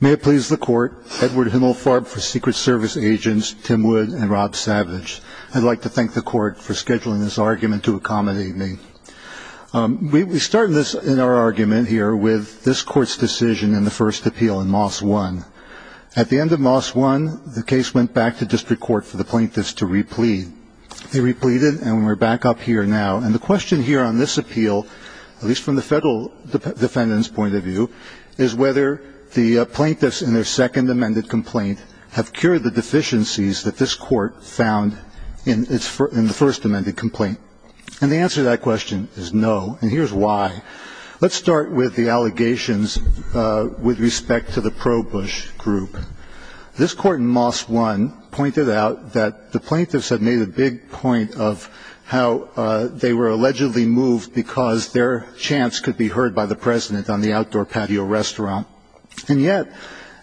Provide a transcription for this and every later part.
May it please the court, Edward Himmelfarb for Secret Service Agents Tim Wood and Rob Savage. I'd like to thank the court for scheduling this argument to accommodate me. We start this, in our argument here, with this court's decision in the first appeal in Moss 1. At the end of Moss 1, the case went back to district court for the plaintiffs to replete. They repleted, and we're back up here now. And the question here on this appeal, at least from the federal defendant's point of view, is whether the plaintiffs, in their second amended complaint, have cured the deficiencies that this court found in the first amended complaint. And the answer to that question is no, and here's why. Let's start with the allegations with respect to the ProBush group. This court in Moss 1 pointed out that the plaintiffs had made a big point of how they were allegedly moved because their chants could be heard by the President on the outdoor patio restaurant. And yet,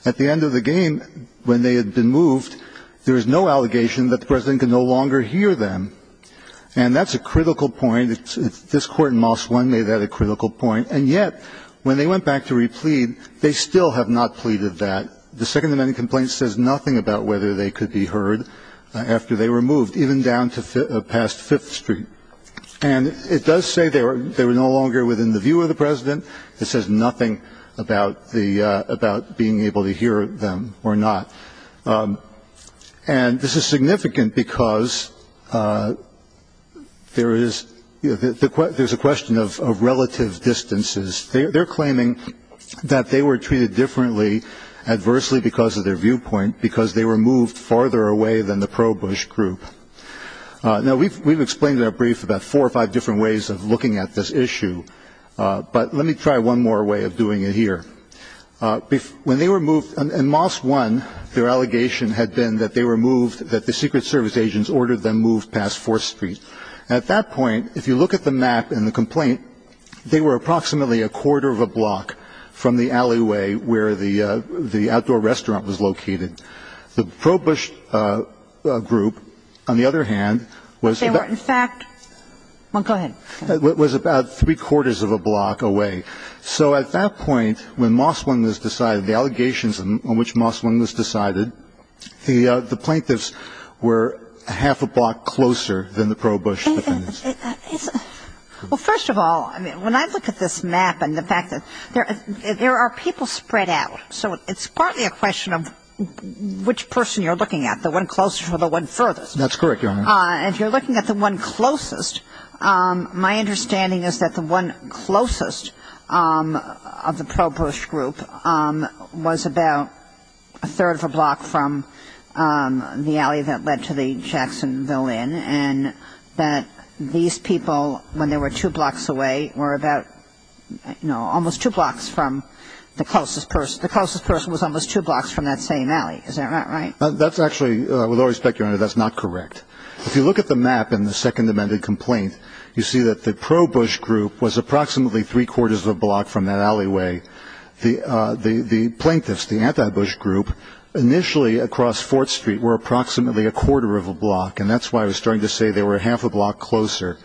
at the end of the game, when they had been moved, there was no allegation that the President could no longer hear them. And that's a critical point. This court in Moss 1 made that a critical point. And yet, when they went back to replete, they still have not pleaded that. The second amended complaint says nothing about whether they could be heard after they were moved, even down to past Fifth Street. And it does say they were no longer within the view of the President. It says nothing about being able to hear them or not. And this is significant because there is a question of relative distances. They're claiming that they were treated differently, adversely, because of their viewpoint, because they were moved farther away than the ProBush group. Now, we've explained in our brief about four or five different ways of looking at this issue. But let me try one more way of doing it here. In Moss 1, their allegation had been that they were moved, that the Secret Service agents ordered them moved past Fourth Street. At that point, if you look at the map in the complaint, they were approximately a quarter of a block from the alleyway where the outdoor restaurant was located. The ProBush group, on the other hand, was about three quarters of a block away. So at that point, when Moss 1 was decided, the allegations on which Moss 1 was decided, the plaintiffs were a half a block closer than the ProBush defendants. Well, first of all, when I look at this map and the fact that there are people spread out, so it's partly a question of which person you're looking at, the one closest or the one furthest. That's correct, Your Honor. If you're looking at the one closest, my understanding is that the one closest of the ProBush group was about a third of a block from the alley that led to the Jacksonville Inn, and that these people, when they were two blocks away, were about, you know, almost two blocks from the closest person. The closest person was almost two blocks from that same alley. Is that not right? That's actually, with all respect, Your Honor, that's not correct. If you look at the map in the Second Amendment complaint, you see that the ProBush group was approximately three quarters of a block from that alleyway. The plaintiffs, the anti-Bush group, initially across Fourth Street were approximately a quarter of a block, and that's why I was starting to say they were a half a block closer.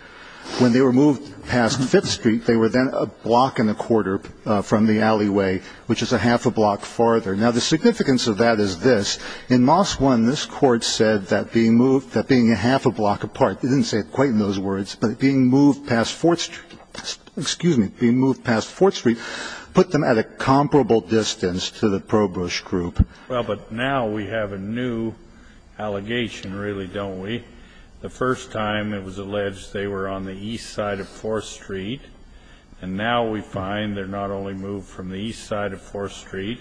When they were moved past Fifth Street, they were then a block and a quarter from the alleyway, which is a half a block farther. Now, the significance of that is this. In Moss 1, this Court said that being a half a block apart, it didn't say it quite in those words, but being moved past Fourth Street put them at a comparable distance to the ProBush group. Well, but now we have a new allegation, really, don't we? The first time it was alleged they were on the east side of Fourth Street, and now we find they're not only moved from the east side of Fourth Street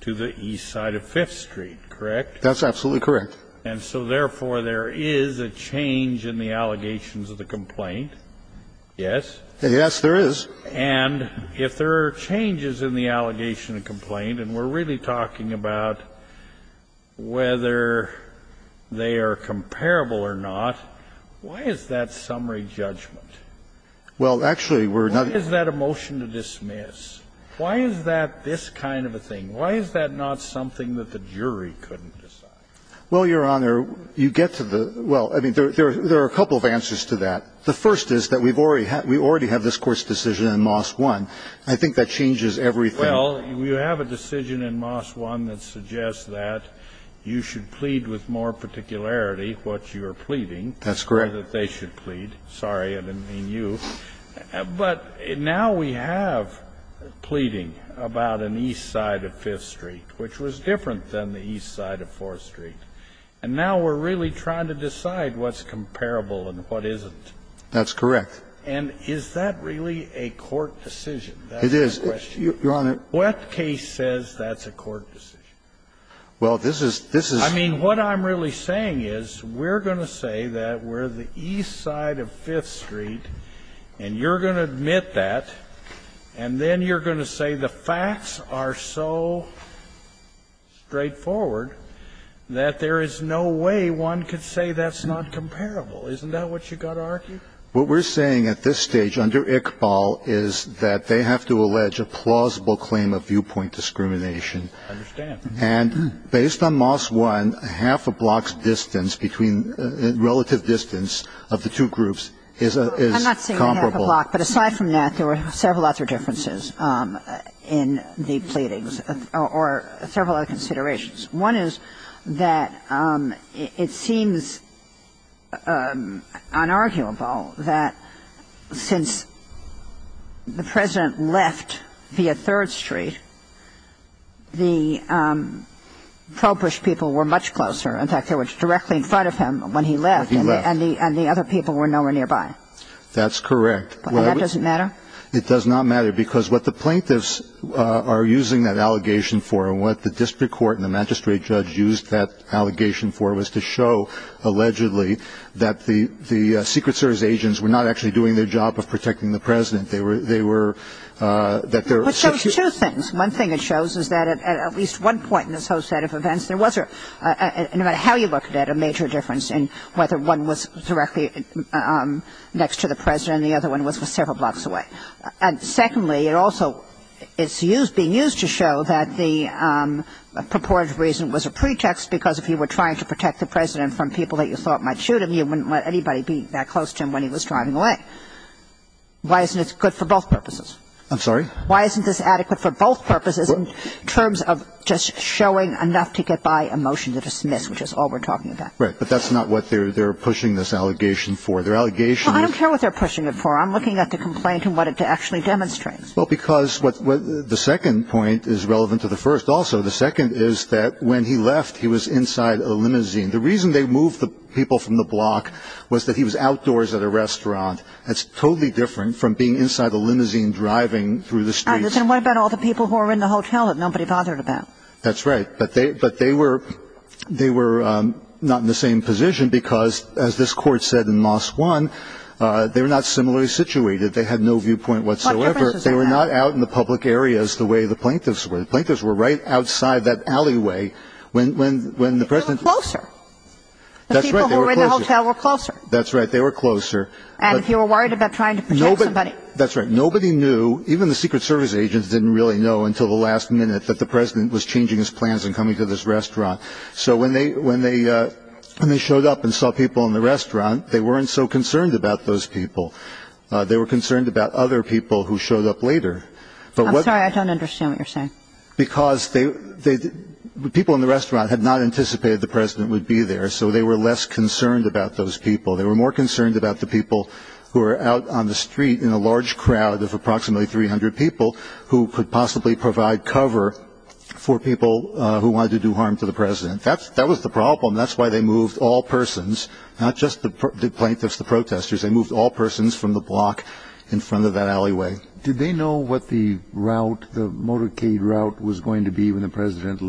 to the east side of Fifth Street, correct? That's absolutely correct. And so, therefore, there is a change in the allegations of the complaint, yes? Yes, there is. And if there are changes in the allegation and complaint, and we're really talking about whether they are comparable or not, why is that summary judgment? Well, actually, we're not. Why is that a motion to dismiss? Why is that this kind of a thing? Why is that not something that the jury couldn't decide? Well, Your Honor, you get to the – well, I mean, there are a couple of answers to that. The first is that we already have this Court's decision in Moss 1. I think that changes everything. Well, you have a decision in Moss 1 that suggests that you should plead with more particularity what you are pleading. That's correct. That they should plead. Sorry, I didn't mean you. But now we have pleading about an east side of Fifth Street, which was different than the east side of Fourth Street. And now we're really trying to decide what's comparable and what isn't. That's correct. And is that really a court decision? It is. Your Honor. What case says that's a court decision? Well, this is – this is – I mean, what I'm really saying is we're going to say that we're the east side of Fifth Street, and you're going to admit that, and then you're going to say the facts are so straightforward that there is no way one could say that's not comparable. Isn't that what you've got to argue? What we're saying at this stage under Iqbal is that they have to allege a plausible claim of viewpoint discrimination. I understand. And based on Moss 1, half a block's distance between – relative distance of the two groups is comparable. I'm not saying half a block. But aside from that, there were several other differences in the pleadings, or several other considerations. One is that it seems unarguable that since the President left via Third Street, the ProBush people were much closer. In fact, they were directly in front of him when he left. When he left. And the other people were nowhere nearby. That's correct. And that doesn't matter? It does not matter, because what the plaintiffs are using that allegation for and what the district court and the magistrate judge used that allegation for was to show, allegedly, that the Secret Service agents were not actually doing their job of protecting the President. They were – that there were – But those are two things. One thing it shows is that at least one point in this whole set of events, there was a – no matter how you look at it, a major difference in whether one was directly next to the President and the other one was several blocks away. And secondly, it also – it's being used to show that the purported reason was a pretext because if you were trying to protect the President from people that you thought might shoot him, you wouldn't let anybody be that close to him when he was driving away. Why isn't this good for both purposes? I'm sorry? Why isn't this adequate for both purposes in terms of just showing enough to get by a motion to dismiss, which is all we're talking about? Right. But that's not what they're pushing this allegation for. Their allegation is – Well, I don't care what they're pushing it for. I'm looking at the complaint and what it actually demonstrates. Well, because what – the second point is relevant to the first also. The second is that when he left, he was inside a limousine. The reason they moved the people from the block was that he was outdoors at a restaurant. That's totally different from being inside a limousine driving through the streets. And what about all the people who were in the hotel that nobody bothered about? That's right. That's right. But they were – they were not in the same position because, as this Court said in Moss 1, they were not similarly situated. They had no viewpoint whatsoever. What difference does that make? They were not out in the public areas the way the plaintiffs were. The plaintiffs were right outside that alleyway when the President – They were closer. That's right. They were closer. The people who were in the hotel were closer. That's right. They were closer. And if you were worried about trying to protect somebody. That's right. Nobody knew – even the Secret Service agents didn't really know until the last minute that the President was changing his plans and coming to this restaurant. So when they – when they – when they showed up and saw people in the restaurant, they weren't so concerned about those people. They were concerned about other people who showed up later. But what – I'm sorry. I don't understand what you're saying. Because they – people in the restaurant had not anticipated the President would be there, so they were less concerned about those people. They were more concerned about the people who were out on the street in a large crowd of approximately 300 people who could possibly provide cover for people who wanted to do harm to the President. That's – that was the problem. That's why they moved all persons, not just the plaintiffs, the protesters. They moved all persons from the block in front of that alleyway. Did they know what the route, the motorcade route, was going to be when the President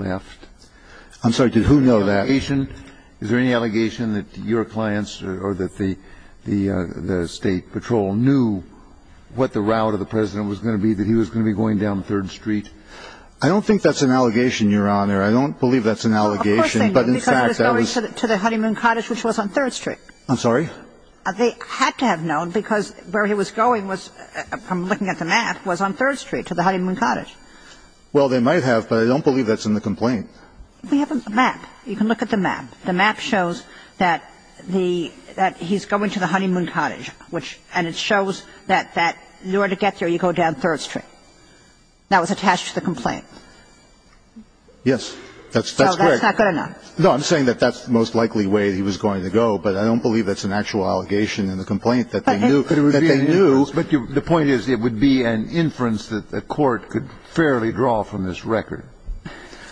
I'm sorry. Did who know that? Is there any allegation – is there any allegation that your clients or that the State Patrol knew what the route of the President was going to be, that he was going to be going down 3rd Street? I don't think that's an allegation, Your Honor. I don't believe that's an allegation. Of course they knew. But in fact, that was – Because he was going to the Honeymoon Cottage, which was on 3rd Street. I'm sorry? They had to have known because where he was going was – from looking at the map, was on 3rd Street, to the Honeymoon Cottage. Well, they might have, but I don't believe that's in the complaint. We have a map. You can look at the map. The map shows that the – that he's going to the Honeymoon Cottage, which – and it shows that in order to get there, you go down 3rd Street. That was attached to the complaint. Yes. That's correct. So that's not good enough. No, I'm saying that that's the most likely way that he was going to go, but I don't believe that's an actual allegation in the complaint, that they knew – that they knew. But the point is, it would be an inference that the Court could fairly draw from this record.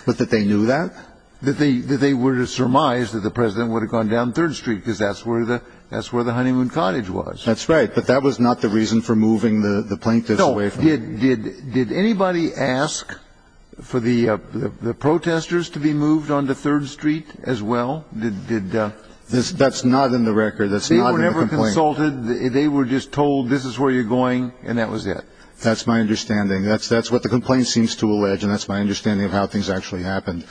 But that they knew that? That they were surmised that the President would have gone down 3rd Street, because that's where the – that's where the Honeymoon Cottage was. That's right. But that was not the reason for moving the plaintiffs away from – No. Did anybody ask for the protesters to be moved onto 3rd Street as well? Did – That's not in the record. That's not in the complaint. They were never consulted. They were just told, this is where you're going, and that was it. That's my understanding. That's what the complaint seems to allege, and that's my understanding of how things actually happened.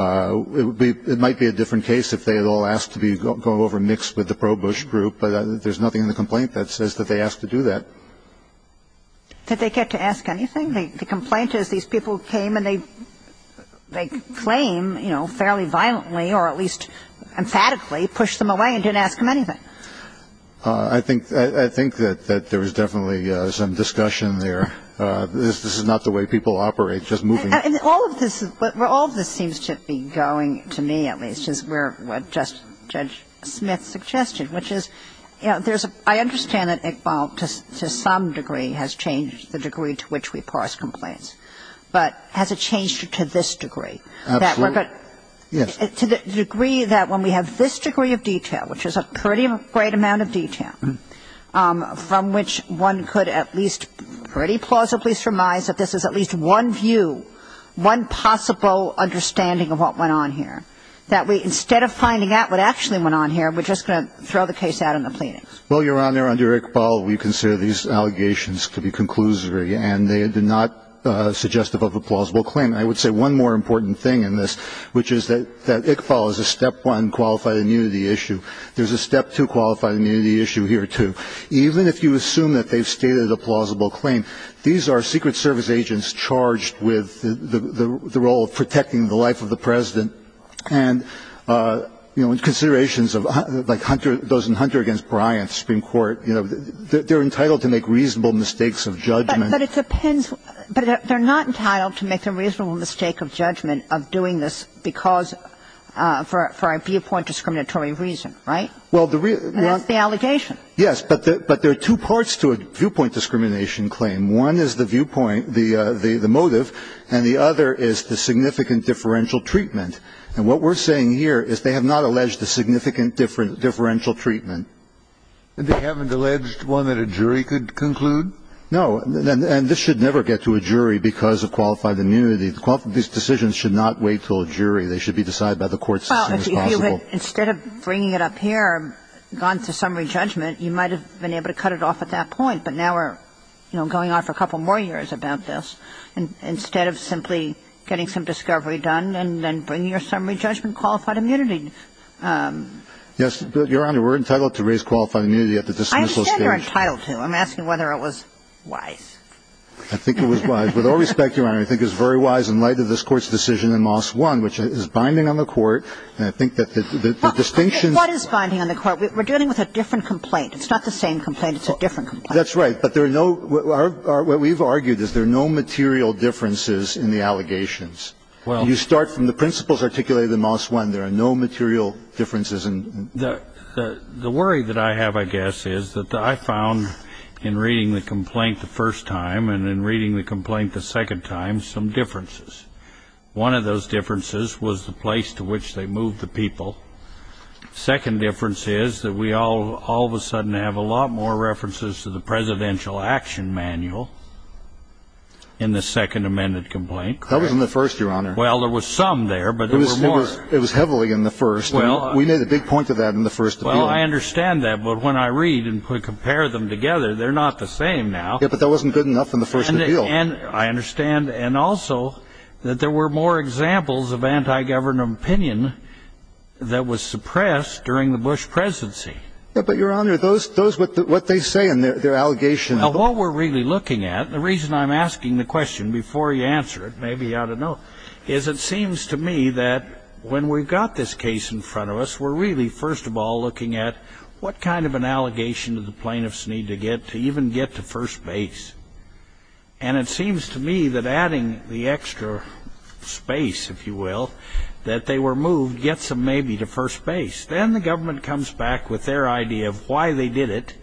It would be – it might be a different case if they had all asked to be – go over and mix with the pro-Bush group, but there's nothing in the complaint that says that they asked to do that. Did they get to ask anything? The complaint is, these people came and they – they claim, you know, fairly violently or at least emphatically pushed them away and didn't ask them anything. I think – I think that there was definitely some discussion there. This is not the way people operate, just moving – And all of this – where all of this seems to be going, to me at least, is where Judge Smith's suggestion, which is, you know, there's a – I understand that Iqbal to some degree has changed the degree to which we parse complaints, but has it changed to this degree? Absolutely. Yes. To the degree that when we have this degree of detail, which is a pretty great amount of detail, from which one could at least pretty plausibly surmise that this is at least one view, one possible understanding of what went on here. That we – instead of finding out what actually went on here, we're just going to throw the case out in the plaintiffs. Well, Your Honor, under Iqbal, we consider these allegations to be conclusory and they are not suggestive of a plausible claim. I would say one more important thing in this, which is that Iqbal is a Step 1 qualified immunity issue. There's a Step 2 qualified immunity issue here, too. Even if you assume that they've stated a plausible claim, these are Secret Service agents charged with the role of protecting the life of the President. And, you know, in considerations of like Hunter – those in Hunter v. Bryant, Supreme Court, you know, they're entitled to make reasonable mistakes of judgment. But it depends – but they're not entitled to make a reasonable mistake of judgment of doing this because – for a viewpoint discriminatory reason, right? Well, the – And that's the allegation. Yes. But there are two parts to a viewpoint discrimination claim. One is the viewpoint – the motive, and the other is the significant differential treatment. And what we're saying here is they have not alleged a significant differential treatment. And they haven't alleged one that a jury could conclude? No. And this should never get to a jury because of qualified immunity. These decisions should not wait until a jury. They should be decided by the court as soon as possible. Well, if you would, instead of bringing it up here, gone to summary judgment, you might have been able to cut it off at that point. But now we're, you know, going on for a couple more years about this, instead of simply getting some discovery done and then bringing your summary judgment qualified immunity. Yes. But, Your Honor, we're entitled to raise qualified immunity at the dismissal stage. I understand you're entitled to. I'm asking whether it was wise. I think it was wise. With all respect, Your Honor, I think it was very wise in light of this Court's decision in Moss 1, which is binding on the Court. And I think that the distinction – What is binding on the Court? We're dealing with a different complaint. It's not the same complaint. It's a different complaint. That's right. But there are no – what we've argued is there are no material differences in the allegations. Well – You start from the principles articulated in Moss 1. There are no material differences in – The worry that I have, I guess, is that I found in reading the complaint the first time and in reading the complaint the second time some differences. One of those differences was the place to which they moved the people. The second difference is that we all of a sudden have a lot more references to the presidential action manual in the second amended complaint. That was in the first, Your Honor. Well, there was some there, but there were more. It was heavily in the first. Well – We made a big point of that in the first appeal. Well, I understand that. But when I read and compare them together, they're not the same now. Yeah, but that wasn't good enough in the first appeal. I understand. And also that there were more examples of anti-government opinion that was suppressed during the Bush presidency. But, Your Honor, those – what they say and their allegations – Well, what we're really looking at – the reason I'm asking the question before you answer it, maybe you ought to know, is it seems to me that when we've got this case in front of us, we're really, first of all, looking at what kind of an allegation do the plaintiffs need to get to even get to first base? And it seems to me that adding the extra space, if you will, that they were moved, gets them maybe to first base. Then the government comes back with their idea of why they did it,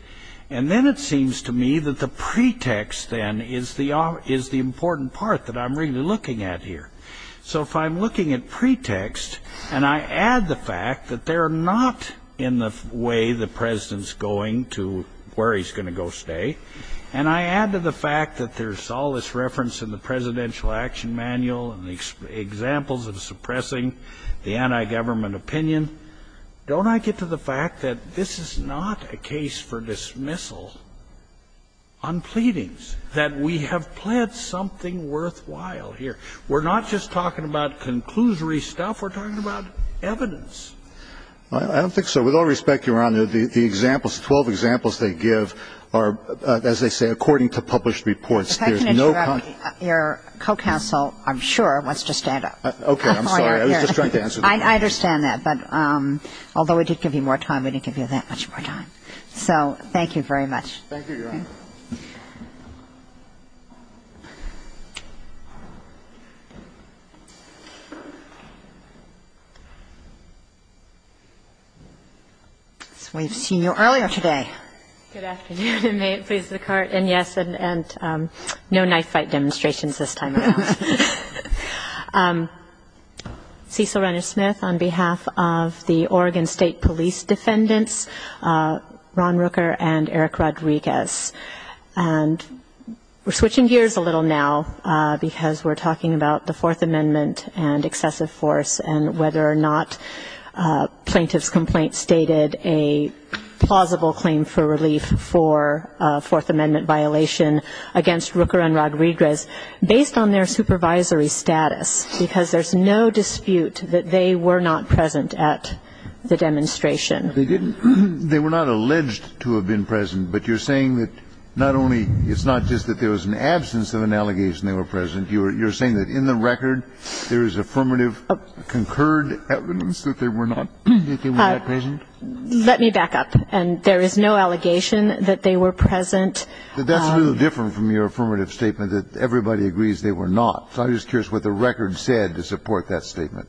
and then it seems to me that the pretext, then, is the important part that I'm really looking at here. So if I'm looking at pretext, and I add the fact that they're not in the way the go stay, and I add to the fact that there's all this reference in the Presidential Action Manual and the examples of suppressing the anti-government opinion, don't I get to the fact that this is not a case for dismissal on pleadings, that we have pled something worthwhile here? We're not just talking about conclusory stuff. We're talking about evidence. I don't think so. With all respect, Your Honor, the examples, the 12 examples they give are, as they say, according to published reports. If I can interrupt, your co-counsel, I'm sure, wants to stand up. Okay. I'm sorry. I was just trying to answer the question. I understand that. But although we did give you more time, we didn't give you that much more time. So thank you very much. Thank you, Your Honor. We've seen you earlier today. Good afternoon, and may it please the Court. And, yes, and no knife fight demonstrations this time around. Cecil Renish-Smith, on behalf of the Oregon State Police Defendants, Ron Rooker and Eric Rodriguez. And we're switching gears a little now, because we're talking about the Fourth Amendment. And I'm wondering if you could comment on the fact that the State Department indicated a plausible claim for relief for a Fourth Amendment violation against Rooker and Rodriguez based on their supervisory status, because there's no dispute that they were not present at the demonstration. They didn't. They were not alleged to have been present. But you're saying that not only it's not just that there was an absence of an allegation they were present, you're saying that in the record there is affirmative concurred evidence that they were not present? Let me back up. And there is no allegation that they were present. But that's a little different from your affirmative statement that everybody agrees they were not. So I'm just curious what the record said to support that statement.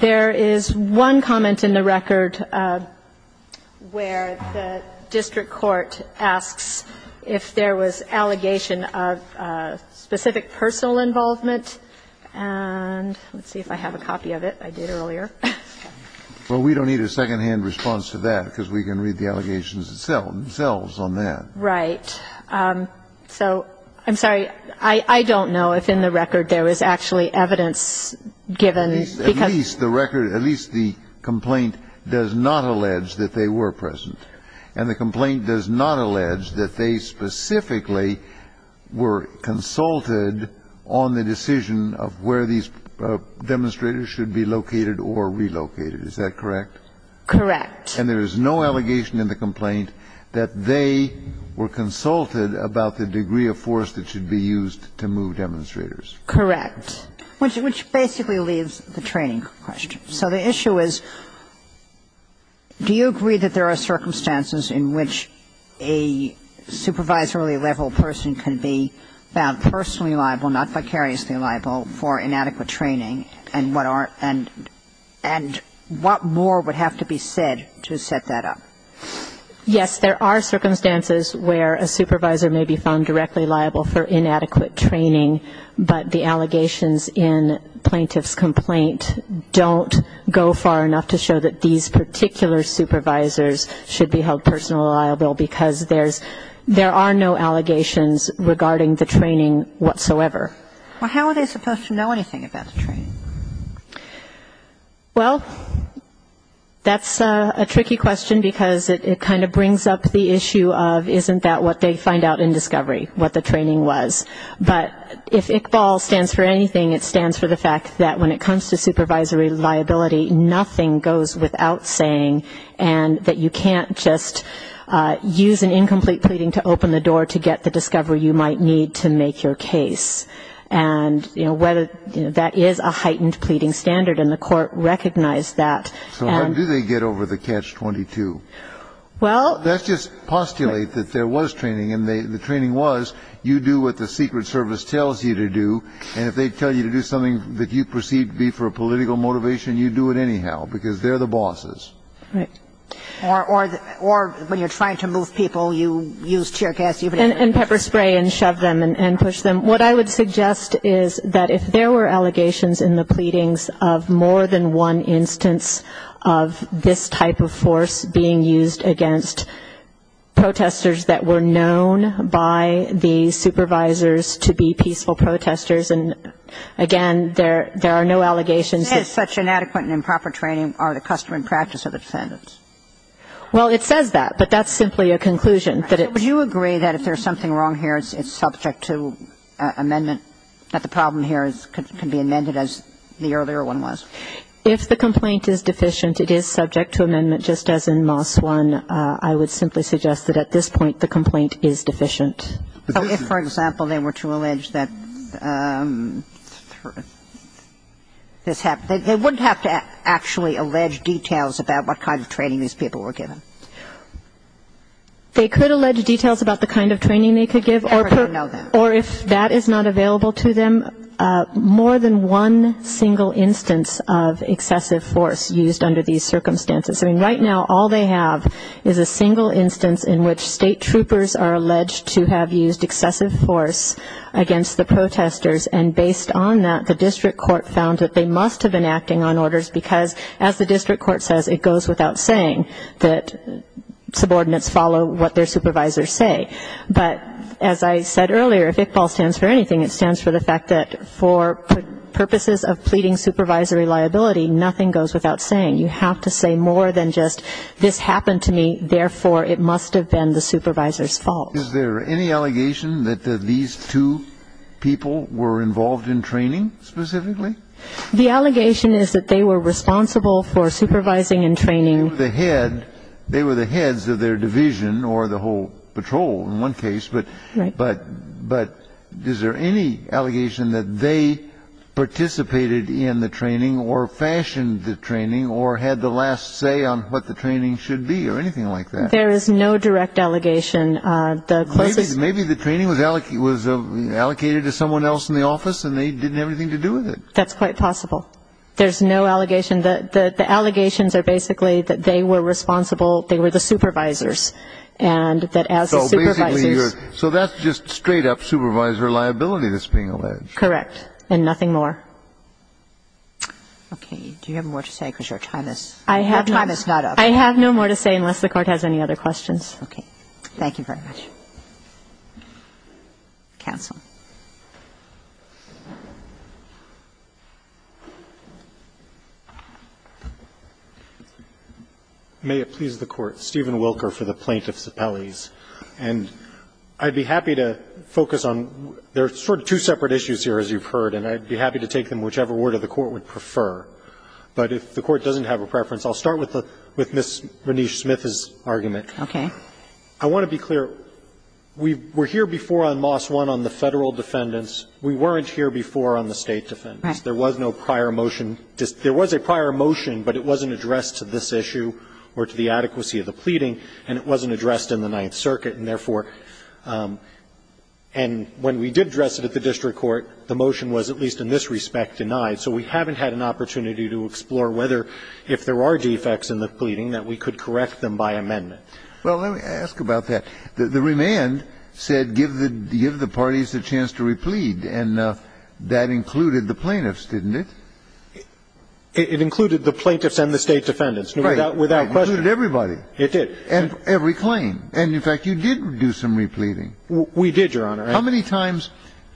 There is one comment in the record where the district court asks if there was allegation of specific personal involvement. And let's see if I have a copy of it. I did earlier. Well, we don't need a secondhand response to that, because we can read the allegations themselves on that. Right. So I'm sorry. I don't know if in the record there was actually evidence given. At least the record, at least the complaint does not allege that they were present. And the complaint does not allege that they specifically were consulted on the decision of where these demonstrators should be located or relocated. Is that correct? Correct. And there is no allegation in the complaint that they were consulted about the degree of force that should be used to move demonstrators. Correct. Which basically leaves the training question. So the issue is, do you agree that there are circumstances in which a supervisory level person can be found personally liable, not vicariously liable, for inadequate training, and what more would have to be said to set that up? Yes, there are circumstances where a supervisor may be found directly liable for inadequate training, but the allegations in plaintiff's complaint don't go far enough to show that these particular supervisors should be held personally liable, because there's no allegations regarding the training whatsoever. Well, how are they supposed to know anything about the training? Well, that's a tricky question, because it kind of brings up the issue of isn't that what they find out in discovery, what the training was. But if ICBAL stands for anything, it stands for the fact that when it comes to supervisory liability, nothing goes without saying, and that you can't just use an incomplete pleading to open the door to get the discovery you might need to make your case. And, you know, whether that is a heightened pleading standard, and the court recognized that. So how do they get over the catch-22? Well. Let's just postulate that there was training, and the training was you do what the Secret Service tells you to do, and if they tell you to do something that you perceive to be for a political motivation, you do it anyhow, because they're the bosses. Right. Or when you're trying to move people, you use tear gas. And pepper spray and shove them and push them. What I would suggest is that if there were allegations in the pleadings of more than one instance of this type of force being used against protesters that were known by the supervisors to be peaceful protesters, and, again, there are no allegations. It says such inadequate and improper training are the custom and practice of defendants. Well, it says that, but that's simply a conclusion. So would you agree that if there's something wrong here, it's subject to amendment, that the problem here can be amended as the earlier one was? If the complaint is deficient, it is subject to amendment just as in Moss 1. I would simply suggest that at this point the complaint is deficient. If, for example, they were to allege that this happened, they wouldn't have to actually allege details about what kind of training these people were given? They could allege details about the kind of training they could give, or if that is not available to them, more than one single instance of excessive force used under these circumstances. I mean, right now all they have is a single instance in which state troopers are alleged to have used excessive force against the protesters, and based on that, the district court found that they must have been acting on orders because, as the subordinates follow what their supervisors say. But as I said earlier, if ICPAL stands for anything, it stands for the fact that for purposes of pleading supervisory liability, nothing goes without saying. You have to say more than just this happened to me, therefore it must have been the supervisor's fault. Is there any allegation that these two people were involved in training specifically? The allegation is that they were responsible for supervising and training. They were the heads of their division or the whole patrol in one case, but is there any allegation that they participated in the training or fashioned the training or had the last say on what the training should be or anything like that? There is no direct allegation. Maybe the training was allocated to someone else in the office and they didn't have anything to do with it. That's quite possible. There's no allegation. And the allegations are basically that they were responsible, they were the supervisors, and that as the supervisors. So that's just straight-up supervisor liability that's being alleged. Correct. And nothing more. Okay. Do you have more to say? Because your time is not up. I have no more to say unless the Court has any other questions. Okay. Thank you very much. Counsel. May it please the Court. Stephen Wilker for the Plaintiff's Appellees. And I'd be happy to focus on the sort of two separate issues here, as you've heard, and I'd be happy to take them whichever word of the Court would prefer. But if the Court doesn't have a preference, I'll start with Ms. Renish-Smith's argument. Okay. I want to be clear. We were here before on Moss 1 on the Federal defendants. We weren't here before on the State defendants. Right. There was no prior motion. There was a prior motion, but it wasn't addressed to this issue or to the adequacy of the pleading, and it wasn't addressed in the Ninth Circuit. And therefore, and when we did address it at the district court, the motion was, at least in this respect, denied. So we haven't had an opportunity to explore whether if there are defects in the pleading that we could correct them by amendment. Well, let me ask about that. The remand said give the parties a chance to replead, and that included the plaintiffs, didn't it? It included the plaintiffs and the State defendants. Right. Without question. It included everybody. It did. And every claim. And, in fact, you did do some repleading. We did, Your Honor. How many times,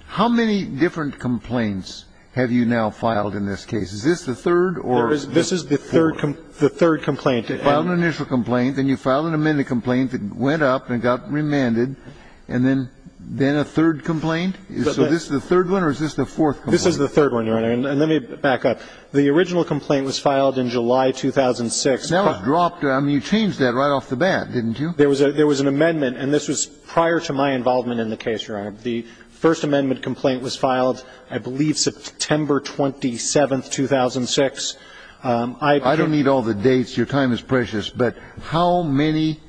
how many different complaints have you now filed in this case? Is this the third or the fourth? This is the third complaint. You filed an initial complaint, then you filed an amended complaint that went up and got remanded, and then a third complaint? So this is the third one or is this the fourth complaint? This is the third one, Your Honor. And let me back up. The original complaint was filed in July 2006. Now it's dropped. I mean, you changed that right off the bat, didn't you? There was an amendment, and this was prior to my involvement in the case, Your Honor. The First Amendment complaint was filed, I believe, September 27, 2006. I don't need all the dates. Your time is precious. But how many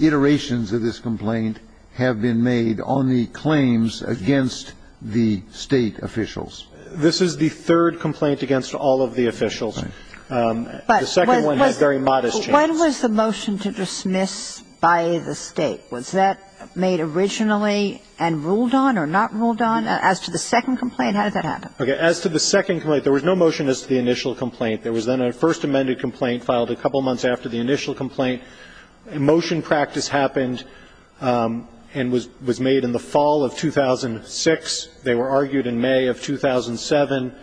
iterations of this complaint have been made on the claims against the State officials? This is the third complaint against all of the officials. The second one had very modest changes. When was the motion to dismiss by the State? Was that made originally and ruled on or not ruled on? As to the second complaint, how did that happen? Okay. As to the second complaint, there was no motion as to the initial complaint. There was then a First Amendment complaint filed a couple months after the initial complaint. A motion practice happened and was made in the fall of 2006. They were argued in May of 2007.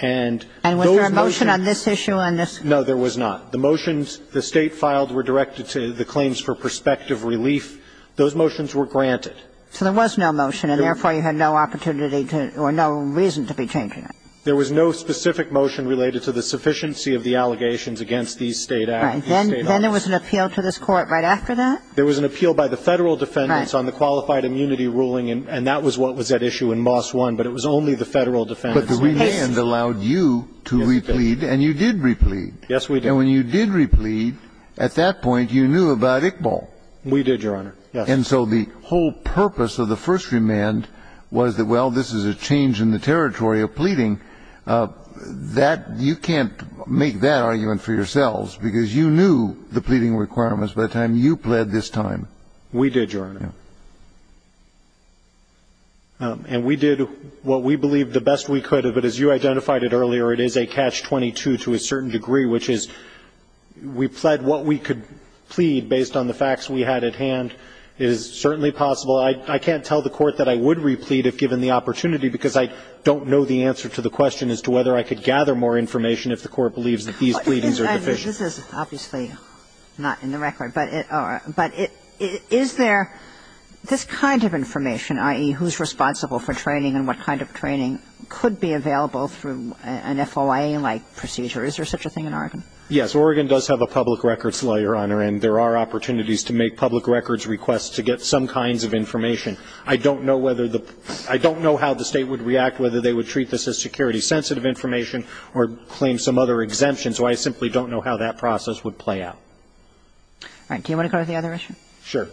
And those motions And was there a motion on this issue on this? No, there was not. The motions the State filed were directed to the claims for prospective relief. Those motions were granted. So there was no motion, and therefore you had no opportunity to or no reason to be changing it. There was no specific motion related to the sufficiency of the allegations against these State acts. Right. Then there was an appeal to this Court right after that? There was an appeal by the Federal defendants on the qualified immunity ruling, and that was what was at issue in Moss 1. But it was only the Federal defendants. But the remand allowed you to replead, and you did replead. Yes, we did. And when you did replead, at that point you knew about Iqbal. We did, Your Honor. Yes. And so the whole purpose of the first remand was that, well, this is a change in the territory of pleading. That you can't make that argument for yourselves, because you knew the pleading requirements by the time you pled this time. We did, Your Honor. And we did what we believed the best we could. But as you identified it earlier, it is a catch-22 to a certain degree, which is we pled what we could plead based on the facts we had at hand. It is certainly possible. Well, I can't tell the Court that I would replead if given the opportunity, because I don't know the answer to the question as to whether I could gather more information if the Court believes that these pleadings are deficient. This is obviously not in the record. But is there this kind of information, i.e., who's responsible for training and what kind of training, could be available through an FOIA-like procedure? Is there such a thing in Oregon? Yes. Oregon does have a public records law, Your Honor, and there are opportunities to make public records requests to get some kinds of information. I don't know whether the – I don't know how the State would react, whether they would treat this as security-sensitive information or claim some other exemption, so I simply don't know how that process would play out. All right. Do you want to go to the other issue? Sure.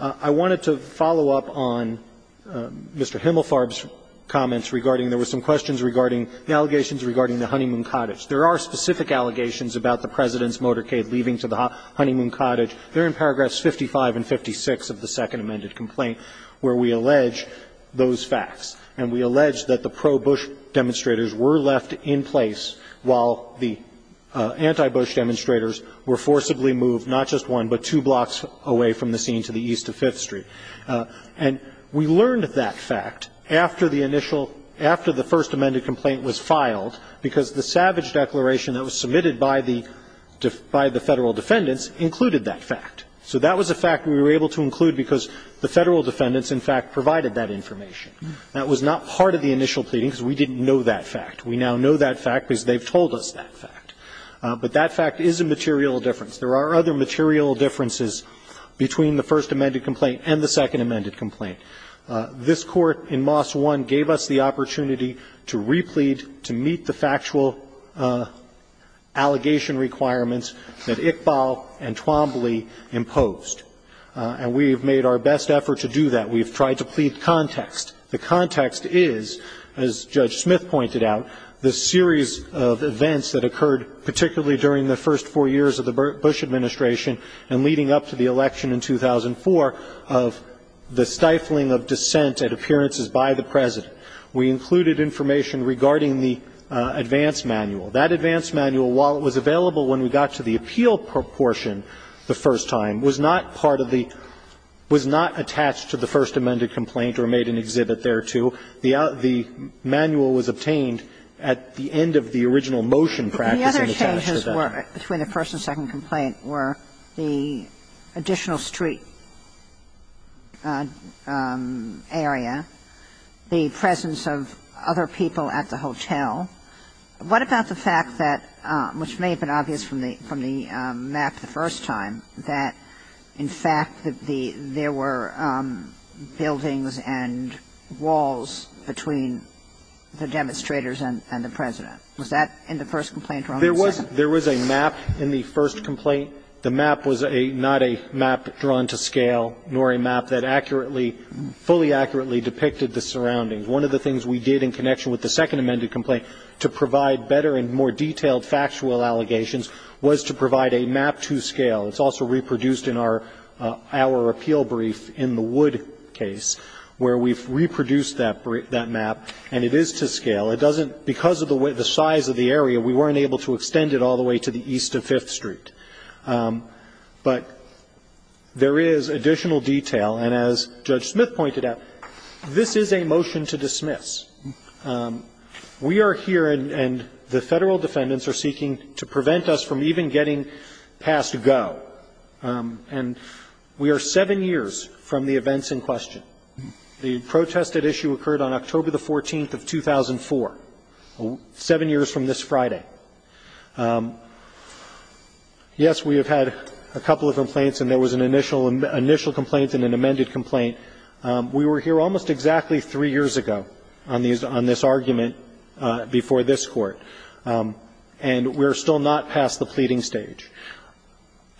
I wanted to follow up on Mr. Himmelfarb's comments regarding – there were some questions regarding the allegations regarding the Honeymoon Cottage. There are specific allegations about the President's motorcade leaving to the Honeymoon Cottage. They're in paragraphs 55 and 56 of the Second Amended Complaint, where we allege those facts. And we allege that the pro-Bush demonstrators were left in place while the anti-Bush demonstrators were forcibly moved not just one, but two blocks away from the scene to the east of Fifth Street. And we learned that fact after the initial – after the First Amended Complaint was filed, because the Savage Declaration that was submitted by the Federal defendants included that fact. So that was a fact we were able to include because the Federal defendants, in fact, provided that information. That was not part of the initial pleading because we didn't know that fact. We now know that fact because they've told us that fact. But that fact is a material difference. There are other material differences between the First Amended Complaint and the Second Amended Complaint. This Court in Moss 1 gave us the opportunity to replead, to meet the factual allegation requirements that Iqbal and Twombly imposed. And we've made our best effort to do that. We've tried to plead context. The context is, as Judge Smith pointed out, the series of events that occurred particularly during the first four years of the Bush Administration and leading up to the election in 2004 of the stifling of dissent at appearances by the President. We included information regarding the advance manual. That advance manual, while it was available when we got to the appeal portion the first time, was not part of the – was not attached to the First Amended Complaint or made an exhibit thereto. The manual was obtained at the end of the original motion practice and attached to that. The other changes were – between the First and Second Complaint were the additional street area, the presence of other people at the hotel. What about the fact that – which may have been obvious from the map the first time, that in fact there were buildings and walls between the demonstrators and the President. Was that in the First Complaint or only the Second? There was a map in the First Complaint. The map was a – not a map drawn to scale, nor a map that accurately – fully accurately depicted the surroundings. One of the things we did in connection with the Second Amended Complaint to provide better and more detailed factual allegations was to provide a map to scale. It's also reproduced in our – our appeal brief in the Wood case, where we've reproduced that – that map, and it is to scale. It doesn't – because of the way – the size of the area, we weren't able to extend it all the way to the east of Fifth Street. But there is additional detail. And as Judge Smith pointed out, this is a motion to dismiss. We are here, and the Federal defendants are seeking to prevent us from even getting passed go. And we are seven years from the events in question. The protested issue occurred on October the 14th of 2004, seven years from this Friday. Yes, we have had a couple of complaints, and there was an initial – initial complaint and an amended complaint. We were here almost exactly three years ago on these – on this argument before this Court. And we are still not past the pleading stage.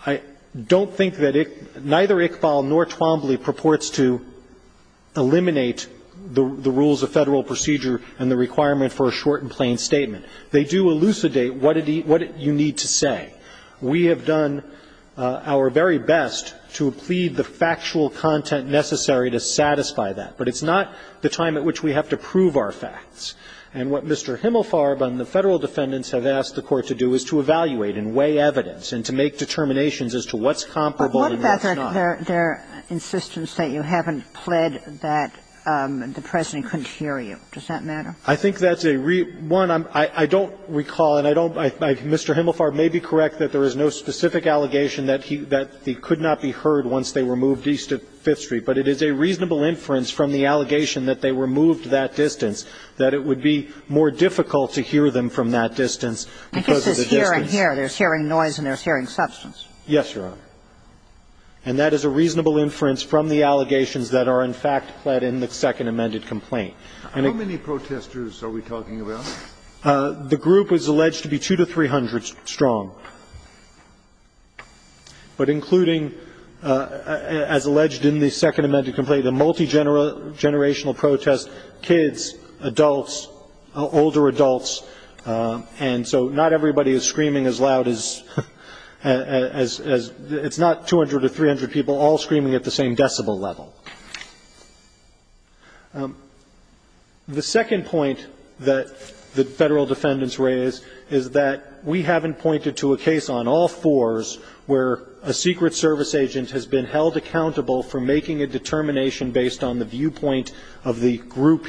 I don't think that – neither Iqbal nor Twombly purports to eliminate the rules of Federal procedure and the requirement for a short and plain statement. They do elucidate what it – what you need to say. We have done our very best to plead the factual content necessary to satisfy that. But it's not the time at which we have to prove our facts. And what Mr. Himelfarb and the Federal defendants have asked the Court to do is to evaluate and weigh evidence and to make determinations as to what's comparable and what's not. And what about their insistence that you haven't pled that the President couldn't hear you? Does that matter? I think that's a – one, I don't recall and I don't – Mr. Himelfarb may be correct that there is no specific allegation that he could not be heard once they were moved east of Fifth Street. But it is a reasonable inference from the allegation that they were moved that distance that it would be more difficult to hear them from that distance because of the distance. I guess it's hearing here. There's hearing noise and there's hearing substance. Yes, Your Honor. And that is a reasonable inference from the allegations that are in fact pled in the second amended complaint. How many protesters are we talking about? The group was alleged to be 200 to 300 strong. But including, as alleged in the second amended complaint, a multigenerational protest, kids, adults, older adults. And so not everybody is screaming as loud as – it's not 200 to 300 people all screaming at the same decibel level. The second point that the Federal defendants raised is that we haven't pointed to a case on all fours where a Secret Service agent has been held accountable for making a determination based on the viewpoint of the group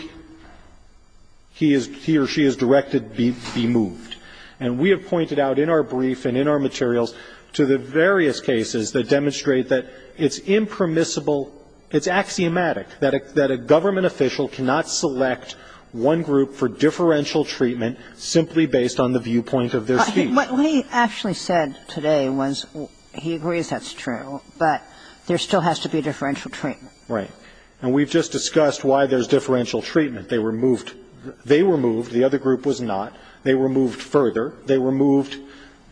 he is – he or she has directed be moved. And we have pointed out in our brief and in our materials to the various cases that demonstrate that it's impermissible, it's axiomatic, that a government official cannot select one group for differential treatment simply based on the viewpoint of their speaker. But what he actually said today was he agrees that's true, but there still has to be differential treatment. Right. And we've just discussed why there's differential treatment. They were moved. They were moved. The other group was not. They were moved further. They were moved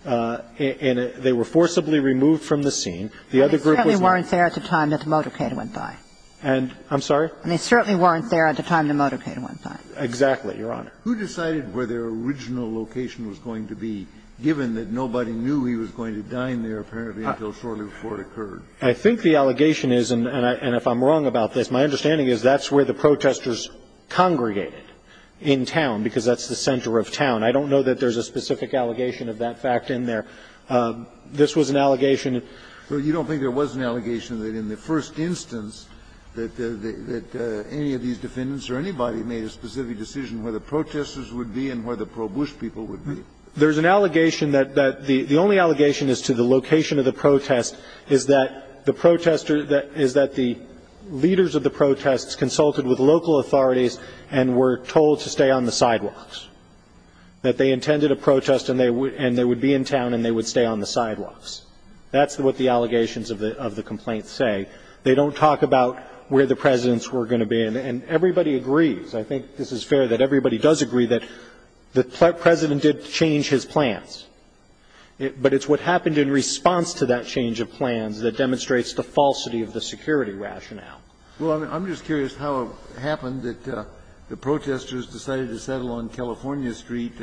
in a – they were forcibly removed from the scene. The other group was not. And they certainly weren't there at the time that the motorcade went by. And – I'm sorry? And they certainly weren't there at the time the motorcade went by. Exactly, Your Honor. Who decided where their original location was going to be, given that nobody knew he was going to die in there apparently until shortly before it occurred? I think the allegation is, and if I'm wrong about this, my understanding is that's where the protesters congregated in town, because that's the center of town. I don't know that there's a specific allegation of that fact in there. This was an allegation. But you don't think there was an allegation that in the first instance that any of these defendants or anybody made a specific decision where the protesters would be and where the pro-Bush people would be? There's an allegation that the only allegation as to the location of the protest is that the protesters – is that the leaders of the protests consulted with local authorities and were told to stay on the sidewalks. That they intended a protest and they would be in town and they would stay on the sidewalks. That's what the allegations of the complaint say. They don't talk about where the presidents were going to be. And everybody agrees. I think this is fair that everybody does agree that the President did change his plans. But it's what happened in response to that change of plans that demonstrates the falsity of the security rationale. Well, I'm just curious how it happened that the protesters decided to settle on California Street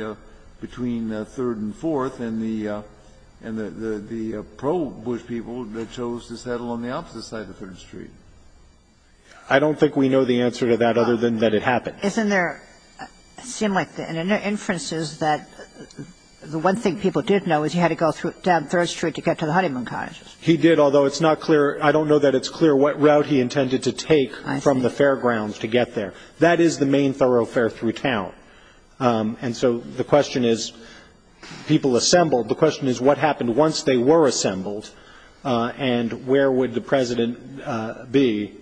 between 3rd and 4th and the pro-Bush people chose to settle on the opposite side of 3rd Street. I don't think we know the answer to that other than that it happened. Isn't there – it seemed like in the inferences that the one thing people did know is he had to go down 3rd Street to get to the Honeymoon Cottage. He did, although it's not clear – I don't know that it's clear what route he intended to take from the fairgrounds to get there. That is the main thoroughfare through town. And so the question is people assembled. The question is what happened once they were assembled and where would the President be.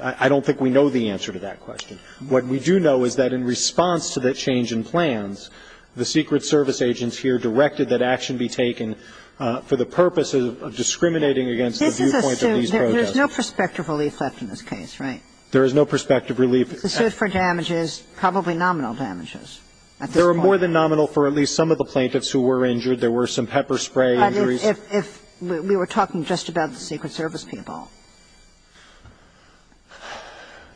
I don't think we know the answer to that question. What we do know is that in response to that change in plans, the Secret Service agents here directed that action be taken for the purpose of discriminating against the viewpoint of these protesters. This is a suit. There is no prospective relief left in this case, right? There is no prospective relief. If it's a suit for damages, probably nominal damages at this point. There were more than nominal for at least some of the plaintiffs who were injured. There were some pepper spray injuries. But if we were talking just about the Secret Service people?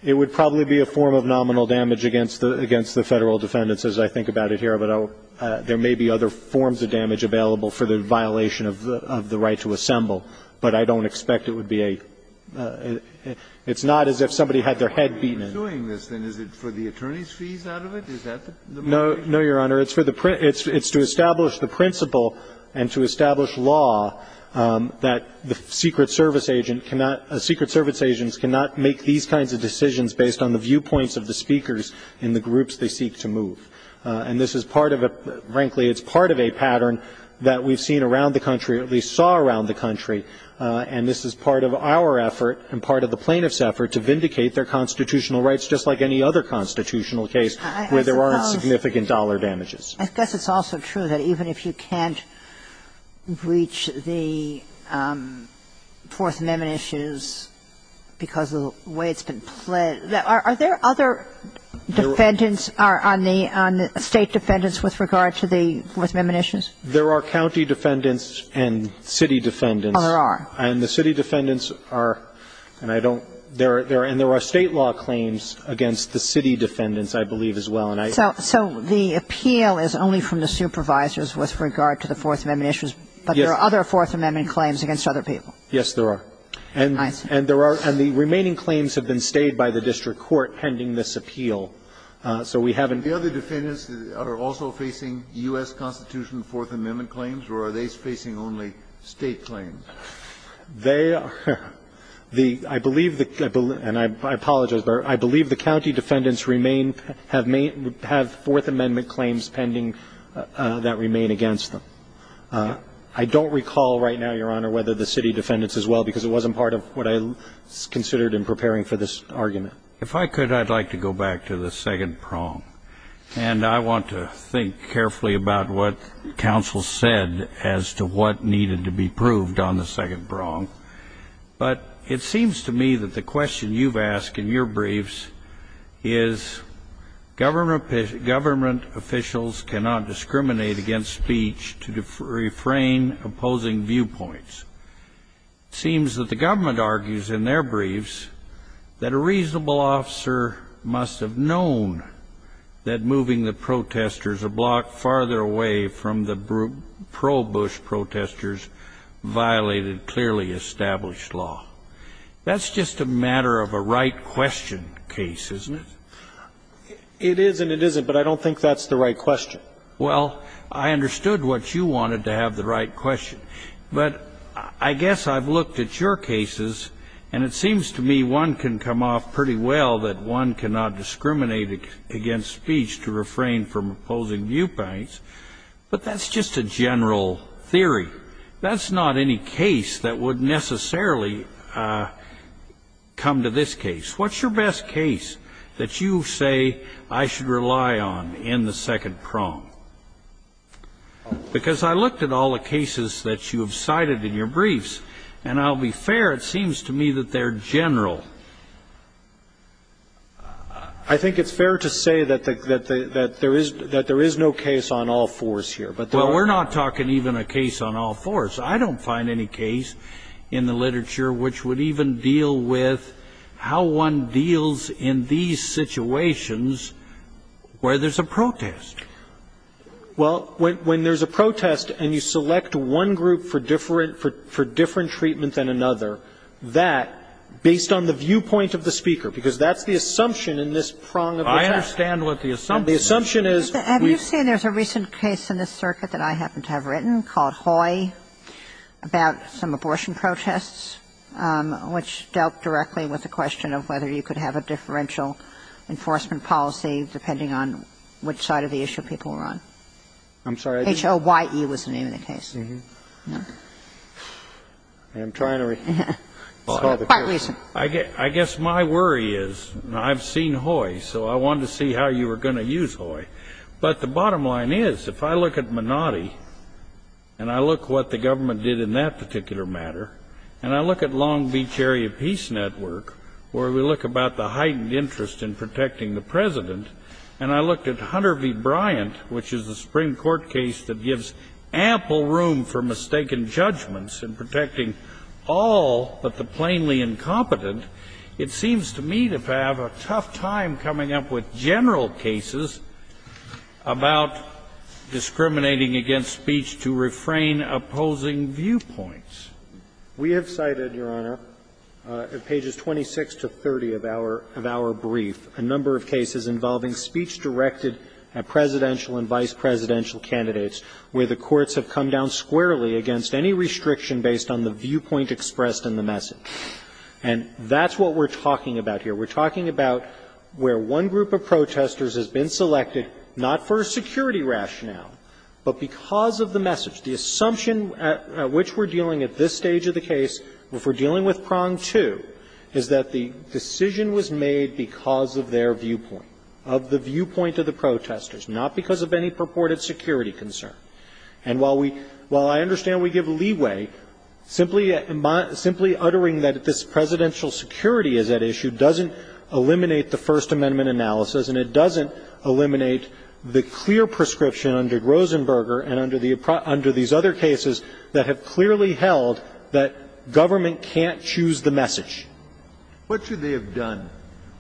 It would probably be a form of nominal damage against the Federal defendants as I think about it here. But there may be other forms of damage available for the violation of the right to assemble. But I don't expect it would be a – it's not as if somebody had their head beaten in. So you're suing this, then, is it for the attorney's fees out of it? Is that the point? No, Your Honor. It's for the – it's to establish the principle and to establish law that the Secret Service agent cannot – Secret Service agents cannot make these kinds of decisions based on the viewpoints of the speakers in the groups they seek to move. And this is part of a – frankly, it's part of a pattern that we've seen around the country, at least saw around the country. And this is part of our effort and part of the plaintiffs' effort to vindicate their constitutional rights, just like any other constitutional case where there aren't significant dollar damages. I suppose it's also true that even if you can't breach the Fourth Amendment issues because of the way it's been pledged – are there other defendants on the – State defendants with regard to the Fourth Amendment issues? There are county defendants and city defendants. Oh, there are. And the city defendants are – and I don't – and there are State law claims against the city defendants, I believe, as well. So the appeal is only from the supervisors with regard to the Fourth Amendment issues, but there are other Fourth Amendment claims against other people? Yes, there are. And there are – and the remaining claims have been stayed by the district court pending this appeal. So we haven't – The other defendants are also facing U.S. Constitutional Fourth Amendment claims or are they facing only State claims? They are – I believe the – and I apologize, but I believe the county defendants remain – have Fourth Amendment claims pending that remain against them. I don't recall right now, Your Honor, whether the city defendants as well, because it wasn't part of what I considered in preparing for this argument. If I could, I'd like to go back to the second prong, and I want to think carefully about what counsel said as to what needed to be proved on the second prong. But it seems to me that the question you've asked in your briefs is government officials cannot discriminate against speech to refrain opposing viewpoints. It seems that the government argues in their briefs that a reasonable officer must have known that moving the protesters a block farther away from the pro-Bush protesters violated clearly established law. That's just a matter of a right question case, isn't it? It is and it isn't, but I don't think that's the right question. Well, I understood what you wanted to have the right question. But I guess I've looked at your cases, and it seems to me one can come off pretty well that one cannot discriminate against speech to refrain from opposing viewpoints, but that's just a general theory. That's not any case that would necessarily come to this case. What's your best case that you say I should rely on in the second prong? Because I looked at all the cases that you have cited in your briefs, and I'll be I think it's fair to say that there is no case on all fours here. Well, we're not talking even a case on all fours. I don't find any case in the literature which would even deal with how one deals in these situations where there's a protest. Well, when there's a protest and you select one group for different treatment than another, that, based on the viewpoint of the speaker, because that's the assumption in this prong of the test. I understand what the assumption is. The assumption is we've Have you seen there's a recent case in this circuit that I happen to have written called Hoy about some abortion protests which dealt directly with the question of whether you could have a differential enforcement policy depending on which side of the issue people were on? I'm sorry. H-O-Y-E was the name of the case. I'm trying to recall the case. I guess my worry is, I've seen Hoy, so I wanted to see how you were going to use Hoy. But the bottom line is, if I look at Menotti and I look what the government did in that particular matter, and I look at Long Beach Area Peace Network, where we look about the heightened interest in protecting the President, and I looked at Hunter v. Bryant, which is a Supreme Court case that gives ample room for mistaken judgments in protecting all but the plainly incompetent, it seems to me to have a tough time coming up with general cases about discriminating against speech to refrain opposing viewpoints. We have cited, Your Honor, at pages 26 to 30 of our brief, a number of cases involving speech-directed presidential and vice-presidential candidates, where the courts have come down squarely against any restriction based on the viewpoint expressed in the message. And that's what we're talking about here. We're talking about where one group of protesters has been selected, not for a security rationale, but because of the message. The assumption at which we're dealing at this stage of the case, if we're dealing with prong two, is that the decision was made because of their viewpoint, of the viewpoint of the protesters, not because of any purported security concern. And while we – while I understand we give leeway, simply uttering that this presidential security is at issue doesn't eliminate the First Amendment analysis, and it doesn't eliminate the clear prescription under Rosenberger and under the – under these other cases that have clearly held that government can't choose the message. What should they have done?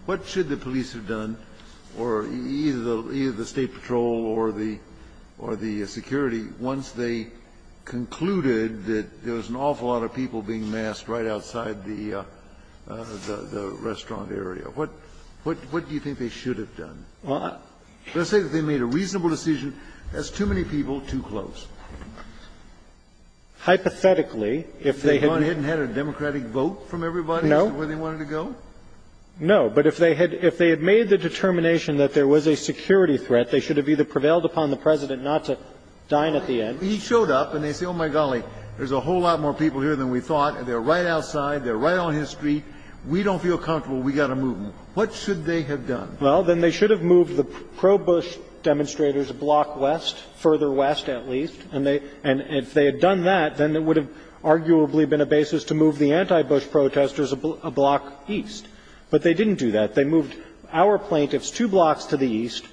What should the police have done, or either the State Patrol or the – or the security, once they concluded that there was an awful lot of people being massed right outside the restaurant area? What do you think they should have done? Let's say that they made a reasonable decision. That's too many people, too close. Hypothetically, if they had – If they had gone ahead and had a democratic vote from everybody as to where they wanted to go? No. But if they had made the determination that there was a security threat, they should have either prevailed upon the President not to dine at the end – He showed up, and they say, oh, my golly, there's a whole lot more people here than we thought, and they're right outside, they're right on his street, we don't feel comfortable, we've got to move. What should they have done? Well, then they should have moved the pro-Bush demonstrators a block west, further west, at least, and if they had done that, then it would have arguably been a basis to move the anti-Bush protesters a block east. But they didn't do that. They moved our plaintiffs two blocks to the east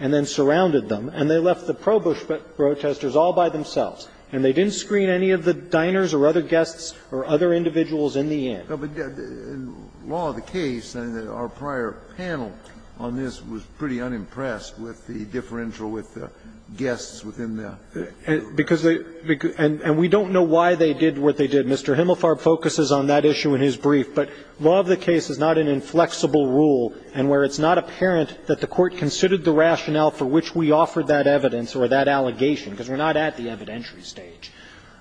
and then surrounded them, and they left the pro-Bush protesters all by themselves. And they didn't screen any of the diners or other guests or other individuals in the end. But in law of the case, our prior panel on this was pretty unimpressed with the differential with the guests within the group. Because they – and we don't know why they did what they did. Mr. Himmelfarb focuses on that issue in his brief. But law of the case is not an inflexible rule, and where it's not apparent that the Court considered the rationale for which we offered that evidence or that allegation, because we're not at the evidentiary stage,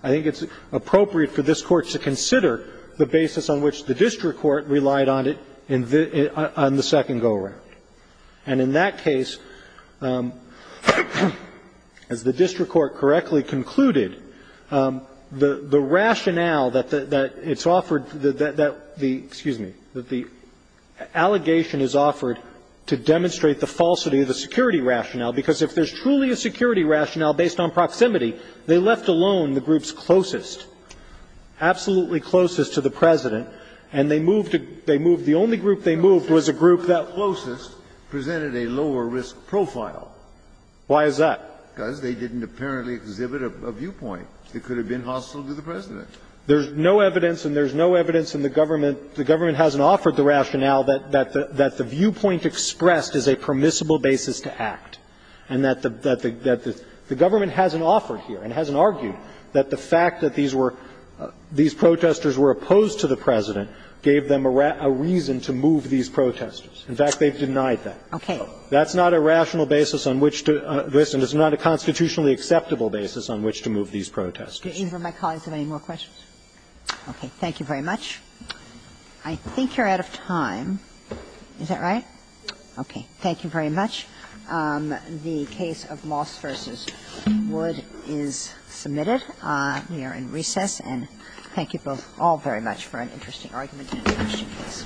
I think it's appropriate for this Court to consider the basis on which the district court relied on it in the – on the second go around. And in that case, as the district court correctly concluded, the – the rationale that the – that it's offered – that the – excuse me – that the allegation is offered to demonstrate the falsity of the security rationale, because if there's truly a security rationale based on proximity, they left alone the group's closest, absolutely closest to the President, and they moved to – they moved – the only group they moved was a group that was the closest, presented a lower risk profile. Why is that? Because they didn't apparently exhibit a viewpoint. It could have been hostile to the President. There's no evidence, and there's no evidence in the government – the government hasn't offered the rationale that – that the viewpoint expressed is a permissible basis to act, and that the – that the government hasn't offered here and hasn't argued that the fact that these were – these protesters were opposed to the President gave them a reason to move these protesters. In fact, they've denied that. Okay. That's not a rational basis on which to – listen, it's not a constitutionally acceptable basis on which to move these protesters. Do either of my colleagues have any more questions? Okay. Thank you very much. I think you're out of time. Is that right? Okay. Thank you very much. The case of Moss v. Wood is submitted. We are in recess, and thank you both all very much for an interesting argument and an interesting case.